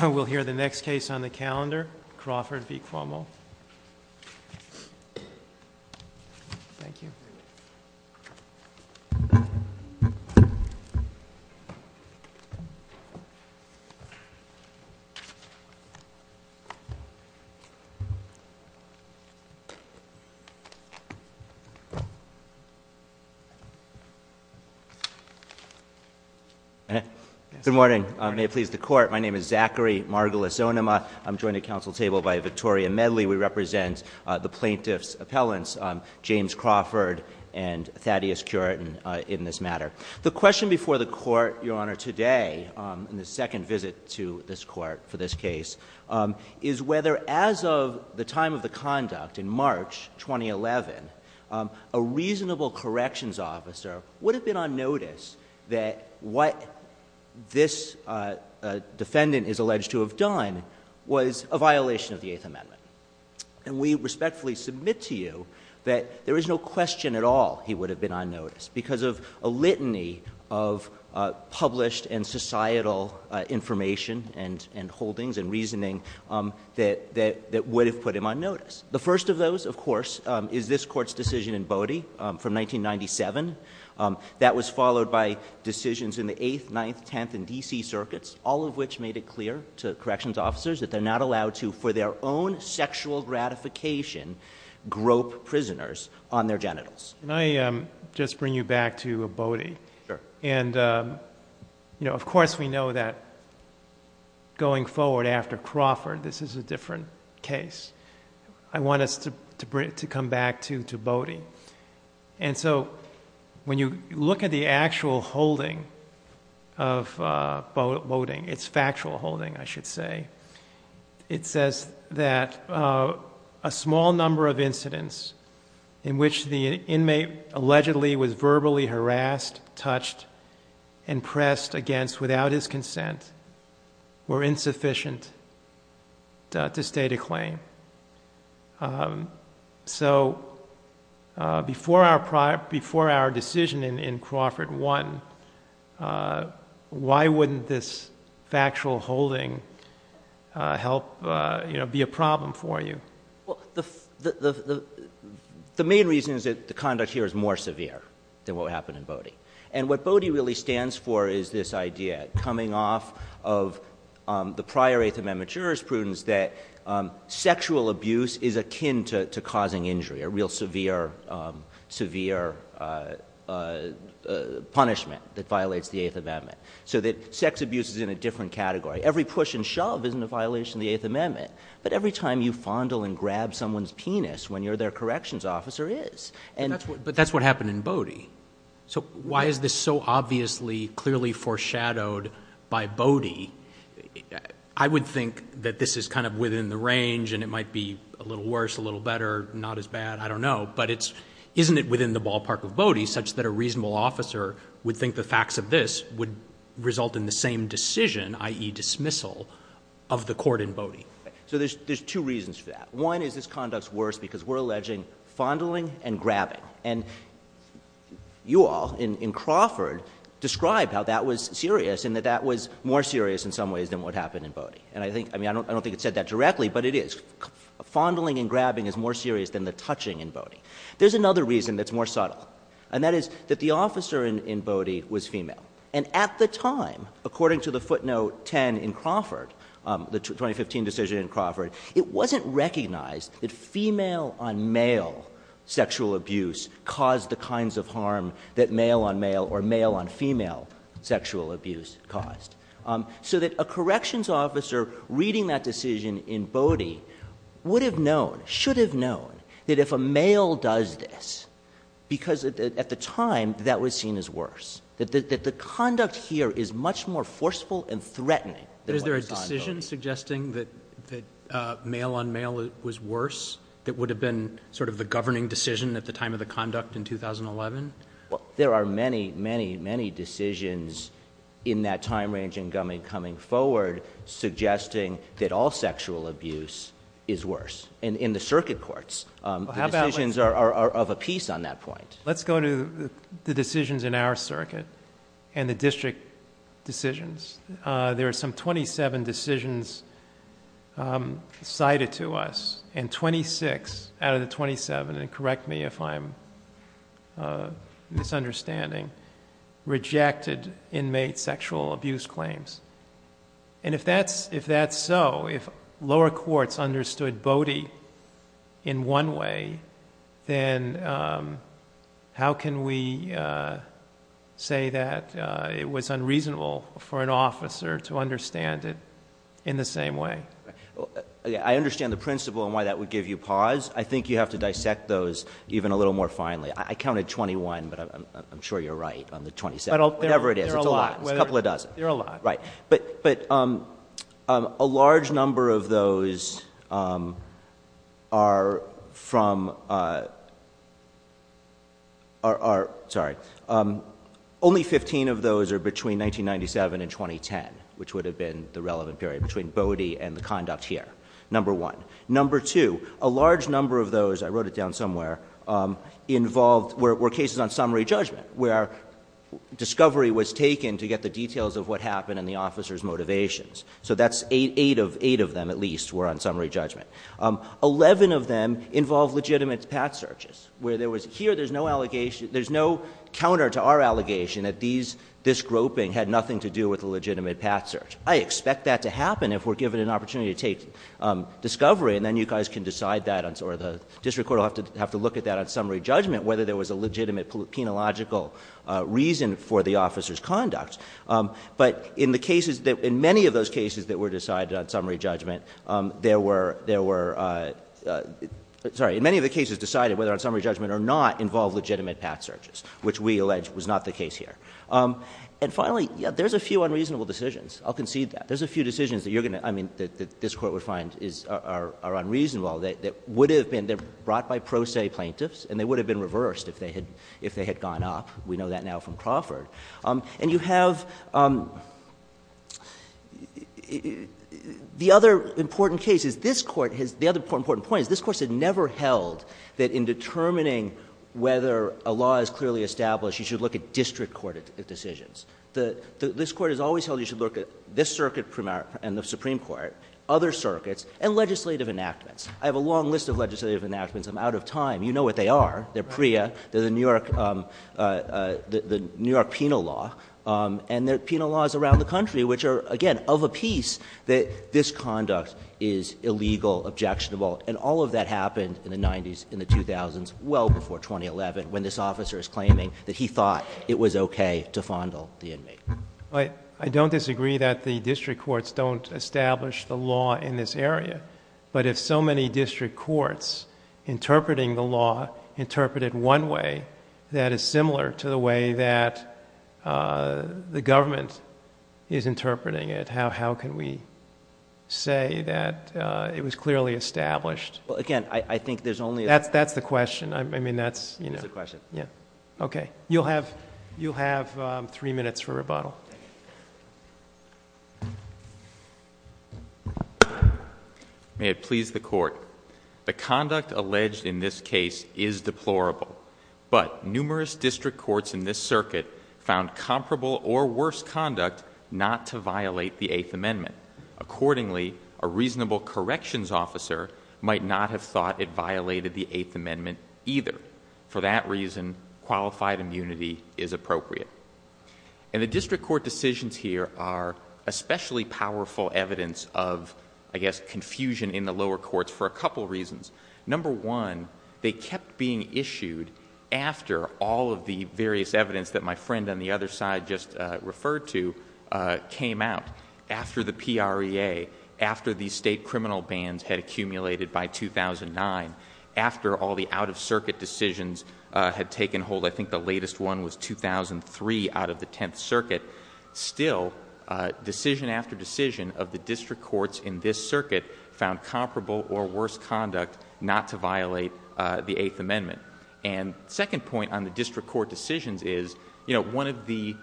We'll hear the next case on the calendar, Crawford v. Cuomo. ZACHARY MARGOLIS-ZONIMA Good morning. May it please the Court, my name is Zachary Margolis-Zonima, I'm joined at council table by Victoria Medley, we represent the plaintiff's appellants, James Crawford and Thaddeus Curiton in this matter. The question before the Court, Your Honor, today, in the second visit to this Court for this case, is whether as of the time of the conduct in March 2011, a reasonable corrections officer would have been on notice that what this defendant is alleged to have done was a violation of the Eighth Amendment. And we respectfully submit to you that there is no question at all he would have been on notice because of a litany of published and societal information and holdings and reasoning that would have put him on notice. The first of those, of course, is this Court's decision in Bodie from 1997. That was followed by decisions in the Eighth, Ninth, Tenth, and D.C. circuits, all of which made it clear to corrections officers that they're not allowed to, for their own sexual gratification, grope prisoners on their genitals. Can I just bring you back to Bodie? Sure. And of course we know that going forward after Crawford, this is a different case. I want us to come back to Bodie. And so when you look at the actual holding of Bodie, its factual holding, I should say, it says that a small number of incidents in which the inmate allegedly was verbally harassed, touched, and pressed against without his consent were insufficient to state a claim. So before our decision in Crawford won, why wouldn't this factual holding help be a problem for you? Well, the main reason is that the conduct here is more severe than what happened in Bodie. And what Bodie really stands for is this idea, coming off of the prior Eighth Amendment jurisprudence, that sexual abuse is akin to causing injury, a real severe punishment that violates the Eighth Amendment. So that sex abuse is in a different category. Every push and shove isn't a violation of the Eighth Amendment. But every time you fondle and grab someone's penis when you're their corrections officer is. But that's what happened in Bodie. So why is this so obviously, clearly foreshadowed by Bodie? I would think that this is kind of within the range and it might be a little worse, a little better, not as bad. I don't know. But isn't it within the ballpark of Bodie such that a reasonable officer would think the facts of this would result in the same decision, i.e. dismissal, of the court in Bodie? So there's two reasons for that. One is this conduct's worse because we're alleging fondling and grabbing. And you all, in Crawford, described how that was serious and that that was more serious in some ways than what happened in Bodie. And I don't think it said that directly, but it is. Fondling and grabbing is more serious than the touching in Bodie. There's another reason that's more subtle. And that is that the officer in Bodie was female. And at the time, according to the footnote 10 in Crawford, the 2015 decision in Crawford, it wasn't recognized that female-on-male sexual abuse caused the kinds of harm that male-on-male or male-on-female sexual abuse caused. So that a corrections officer reading that decision in Bodie would have known, should have known, that if a male does this, because at the time that was seen as worse, that the conduct here is much more forceful and threatening than what was done in Bodie. Is there a decision suggesting that male-on-male was worse that would have been sort of the governing decision at the time of the conduct in 2011? There are many, many, many decisions in that time range and coming forward suggesting that all sexual abuse is worse. And in the circuit courts, the decisions are of a piece on that point. Let's go to the decisions in our circuit and the district decisions. There are some 27 decisions cited to us. And 26 out of the 27, and correct me if I'm misunderstanding, rejected inmate sexual abuse claims. And if that's so, if lower courts understood Bodie in one way, then how can we say that it was unreasonable for an officer to understand it in the same way? I understand the principle and why that would give you pause. I think you have to dissect those even a little more finely. I counted 21, but I'm sure you're right on the 27. Whatever it is, it's a lot. It's a couple of dozen. There are a lot. Right. But a large number of those are from, sorry, only 15 of those are between 1997 and 2010, which would have been the relevant period between Bodie and the conduct here, number one. Number two, a large number of those, I wrote it down somewhere, were cases on summary judgment, where discovery was taken to get the details of what happened and the officer's motivations. So that's eight of them at least were on summary judgment. Eleven of them involve legitimate path searches, where there was, here there's no counter to our allegation that this groping had nothing to do with a legitimate path search. I expect that to happen if we're given an opportunity to take discovery, and then you guys can decide that, or the district court will have to look at that on summary judgment, whether there was a legitimate penological reason for the officer's conduct. But in the cases that, in many of those cases that were decided on summary judgment, there were, sorry, in many of the cases decided whether on summary judgment or not involved legitimate path searches, which we allege was not the case here. And finally, there's a few unreasonable decisions. I'll concede that. There's a few decisions that you're going to, I mean, that this Court would find are unreasonable that would have been brought by pro se plaintiffs, and they would have been reversed if they had gone up. We know that now from Crawford. And you have, the other important case is this Court has, the other important point is this Court has never held that in determining whether a law is clearly established, you should look at district court decisions. This Court has always held you should look at this circuit and the Supreme Court, other circuits, and legislative enactments. I have a long list of legislative enactments. I'm out of time. You know what they are. They're PREA. They're the New York, the New York penal law. And there are penal laws around the country which are, again, of a piece that this conduct is illegal, objectionable. And all of that happened in the 90s, in the 2000s, well before 2011 when this officer is claiming that he thought it was okay to fondle the inmate. I don't disagree that the district courts don't establish the law in this area. But if so many district courts interpreting the law interpreted one way that is similar to the way that the government is interpreting it, how can we say that it was clearly established? Well, again, I think there's only... That's the question. I mean, that's... It's a question. Yeah. Okay. You'll have three minutes for rebuttal. May it please the Court. The conduct alleged in this case is deplorable. But numerous district courts in this circuit found comparable or worse conduct not to violate the Eighth Amendment. Accordingly, a reasonable corrections officer might not have thought it violated the Eighth Amendment either. For that reason, qualified immunity is appropriate. And the district court decisions here are especially powerful evidence of, I guess, confusion in the lower courts for a couple reasons. Number one, they kept being issued after all of the various evidence that my friend on the other side just referred to came out. After the PREA, after the state criminal bans had accumulated by 2009, after all the out-of-circuit decisions had taken hold. I think the latest one was 2003 out of the Tenth Circuit. Still, decision after decision of the district courts in this circuit found comparable or worse conduct not to violate the Eighth Amendment. And the second point on the district court decisions is, you know, one of the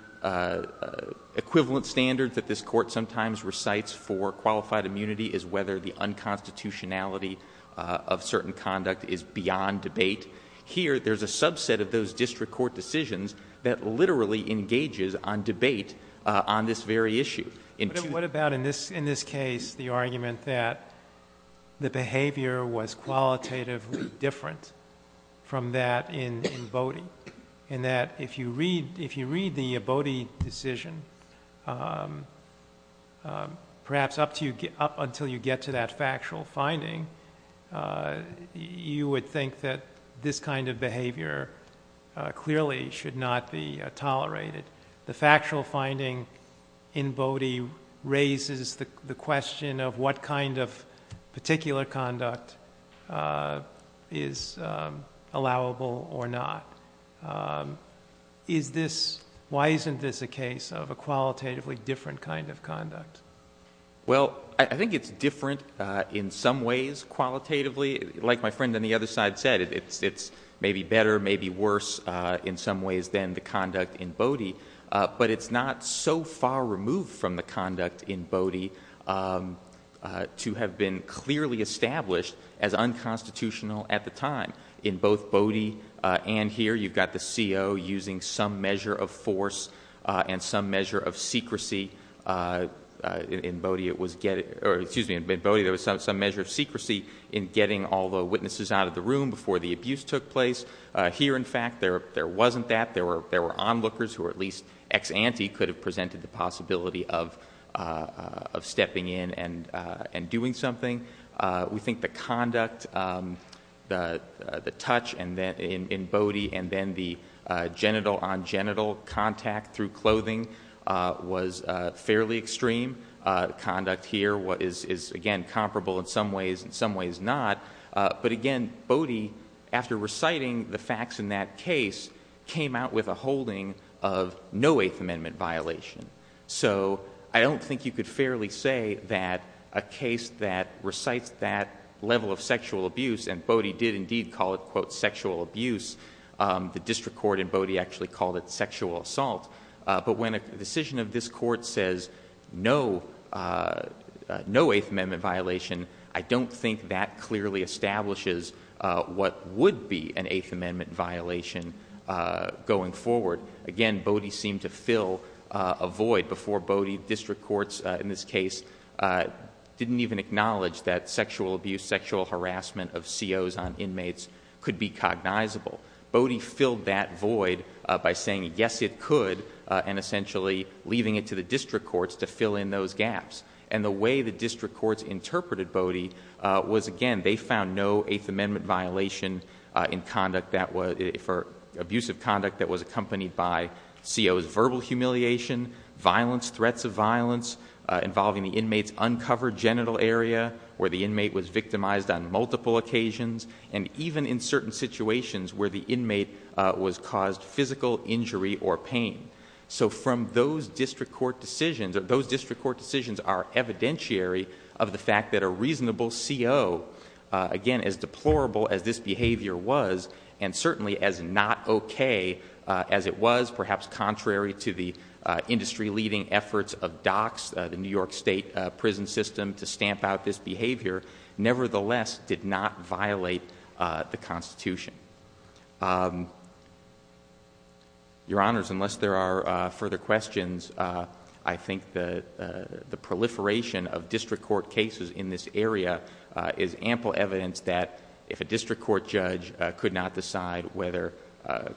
equivalent standards that this court sometimes recites for qualified immunity is whether the unconstitutionality of certain conduct is beyond debate. Here, there's a subset of those district court decisions that literally engages on debate on this very issue. What about in this case the argument that the behavior was qualitatively different from that in Bodie? And that if you read the Bodie decision, perhaps up until you get to that factual finding, you would think that this kind of behavior clearly should not be tolerated. The factual finding in Bodie raises the question of what kind of particular conduct is allowable or not. Why isn't this a case of a qualitatively different kind of conduct? Well, I think it's different in some ways qualitatively. Like my friend on the other side said, it's maybe better, maybe worse in some ways than the conduct in Bodie. But it's not so far removed from the conduct in Bodie to have been clearly established as unconstitutional at the time. In both Bodie and here, you've got the CO using some measure of force and some measure of secrecy. In Bodie, there was some measure of secrecy in getting all the witnesses out of the room before the abuse took place. Here, in fact, there wasn't that. There were onlookers who at least ex-ante could have presented the possibility of stepping in and doing something. We think the conduct, the touch in Bodie and then the genital-on-genital contact through clothing was fairly extreme. Conduct here is, again, comparable in some ways, in some ways not. But again, Bodie, after reciting the facts in that case, came out with a holding of no Eighth Amendment violation. So I don't think you could fairly say that a case that recites that level of sexual abuse, and Bodie did indeed call it, quote, sexual abuse. The district court in Bodie actually called it sexual assault. But when a decision of this Court says no Eighth Amendment violation, I don't think that clearly establishes what would be an Eighth Amendment violation going forward. Again, Bodie seemed to fill a void before Bodie district courts in this case didn't even acknowledge that sexual abuse, sexual harassment of COs on inmates could be cognizable. Bodie filled that void by saying, yes, it could, and essentially leaving it to the district courts to fill in those gaps. And the way the district courts interpreted Bodie was, again, they found no Eighth Amendment violation in conduct that was, for abusive conduct that was accompanied by COs verbal humiliation, violence, threats of violence, involving the inmate's uncovered genital area where the inmate was victimized on multiple occasions, and even in certain situations where the inmate was caused physical injury or pain. So from those district court decisions, those district court decisions are evidentiary of the fact that a reasonable CO, again, as deplorable as this behavior was, and certainly as not okay as it was, perhaps contrary to the industry-leading efforts of DOCS, the New York State prison system, to stamp out this behavior, nevertheless did not violate the Constitution. Your Honors, unless there are further questions, I think the proliferation of district court cases in this area is ample evidence that if a district court judge could not decide whether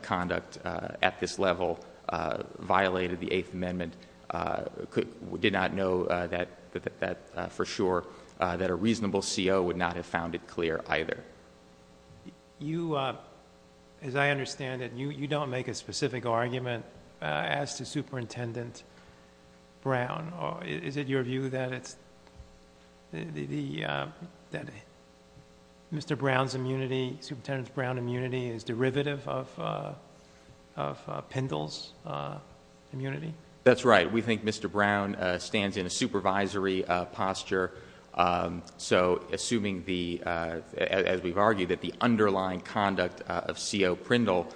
conduct at this level violated the Eighth Amendment, did not know that for sure, that a reasonable CO would not have found it clear either. You, as I understand it, you don't make a specific argument as to Superintendent Brown. Is it your view that Mr. Brown's immunity, Superintendent Brown's immunity, is derivative of Pindell's immunity? That's right. We think Mr. Brown stands in a supervisory posture, so assuming, as we've argued, that the underlying conduct of CO Pindell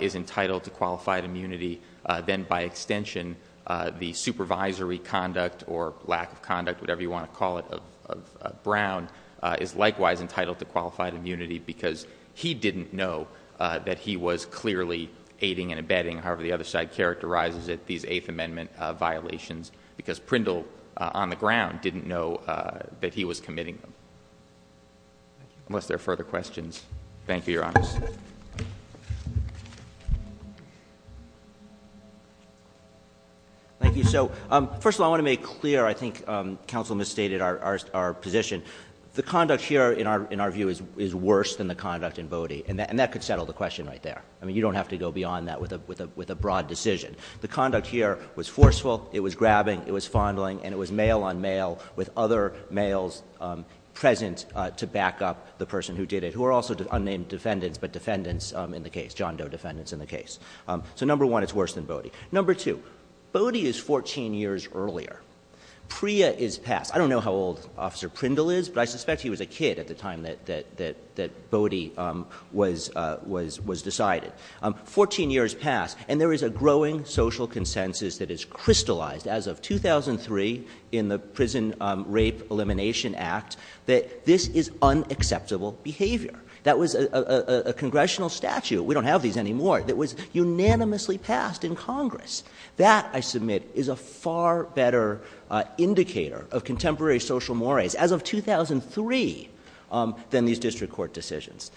is entitled to qualified immunity, then by extension the supervisory conduct or lack of conduct, whatever you want to call it, of Brown is likewise entitled to qualified immunity because he didn't know that he was clearly aiding and abetting. However, the other side characterizes it, these Eighth Amendment violations, because Pindell on the ground didn't know that he was committing them. Unless there are further questions. Thank you, Your Honor. Thank you. So, first of all, I want to make clear, I think counsel misstated our position. The conduct here, in our view, is worse than the conduct in Bodie, and that could settle the question right there. I mean, you don't have to go beyond that with a broad decision. The conduct here was forceful, it was grabbing, it was fondling, and it was mail-on-mail with other males present to back up the person who did it, who are also unnamed defendants, but defendants in the case, John Doe defendants in the case. So, number one, it's worse than Bodie. Number two, Bodie is 14 years earlier. Pria is past. I don't know how old Officer Pindell is, but I suspect he was a kid at the time that Bodie was decided. Fourteen years past, and there is a growing social consensus that is crystallized as of 2003 in the Prison Rape Elimination Act that this is unacceptable behavior. That was a congressional statute, we don't have these anymore, that was unanimously passed in Congress. That, I submit, is a far better indicator of contemporary social mores as of 2003 than these district court decisions.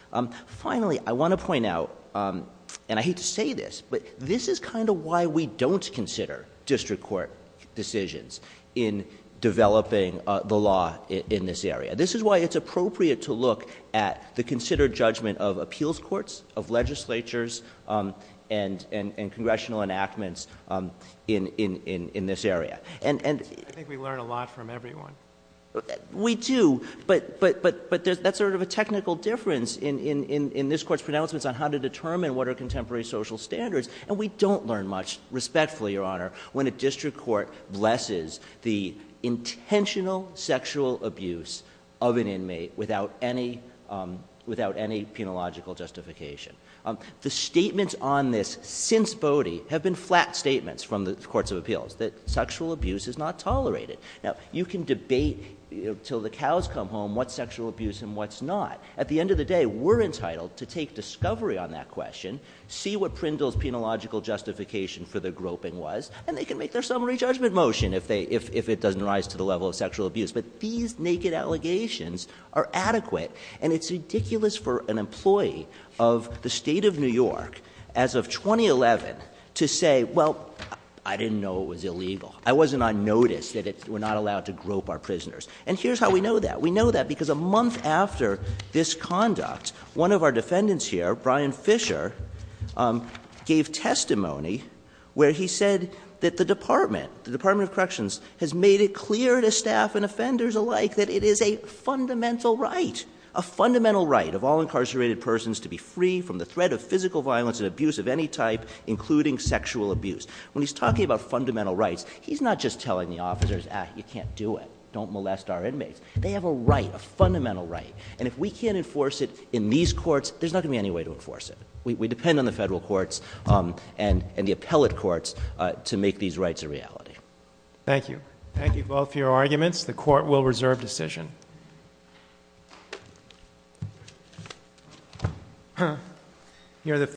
Finally, I want to point out, and I hate to say this, but this is kind of why we don't consider district court decisions in developing the law in this area. This is why it's appropriate to look at the considered judgment of appeals courts, of legislatures, and congressional enactments in this area. I think we learn a lot from everyone. We do, but that's sort of a technical difference in this Court's pronouncements on how to determine what are contemporary social standards, and we don't learn much, respectfully, Your Honor, when a district court blesses the penalogical justification. The statements on this since Bodie have been flat statements from the courts of appeals, that sexual abuse is not tolerated. Now, you can debate until the cows come home what's sexual abuse and what's not. At the end of the day, we're entitled to take discovery on that question, see what Prindle's penalogical justification for the groping was, and they can make their summary judgment motion if it doesn't rise to the level of sexual abuse. But these naked allegations are adequate, and it's ridiculous for an employee of the State of New York, as of 2011, to say, well, I didn't know it was illegal. I wasn't on notice that we're not allowed to grope our prisoners. And here's how we know that. We know that because a month after this conduct, one of our defendants here, Brian Fisher, gave testimony where he said that the Department, the Department of Corrections, has made it clear to staff and offenders alike that it is a fundamental right, a fundamental right of all incarcerated persons to be free from the threat of physical violence and abuse of any type, including sexual abuse. When he's talking about fundamental rights, he's not just telling the officers, ah, you can't do it, don't molest our inmates. They have a right, a fundamental right. And if we can't enforce it in these courts, there's not going to be any way to enforce it. We depend on the federal courts and the appellate courts to make these rights a reality. Thank you. Thank you both for your arguments. The court will reserve decision.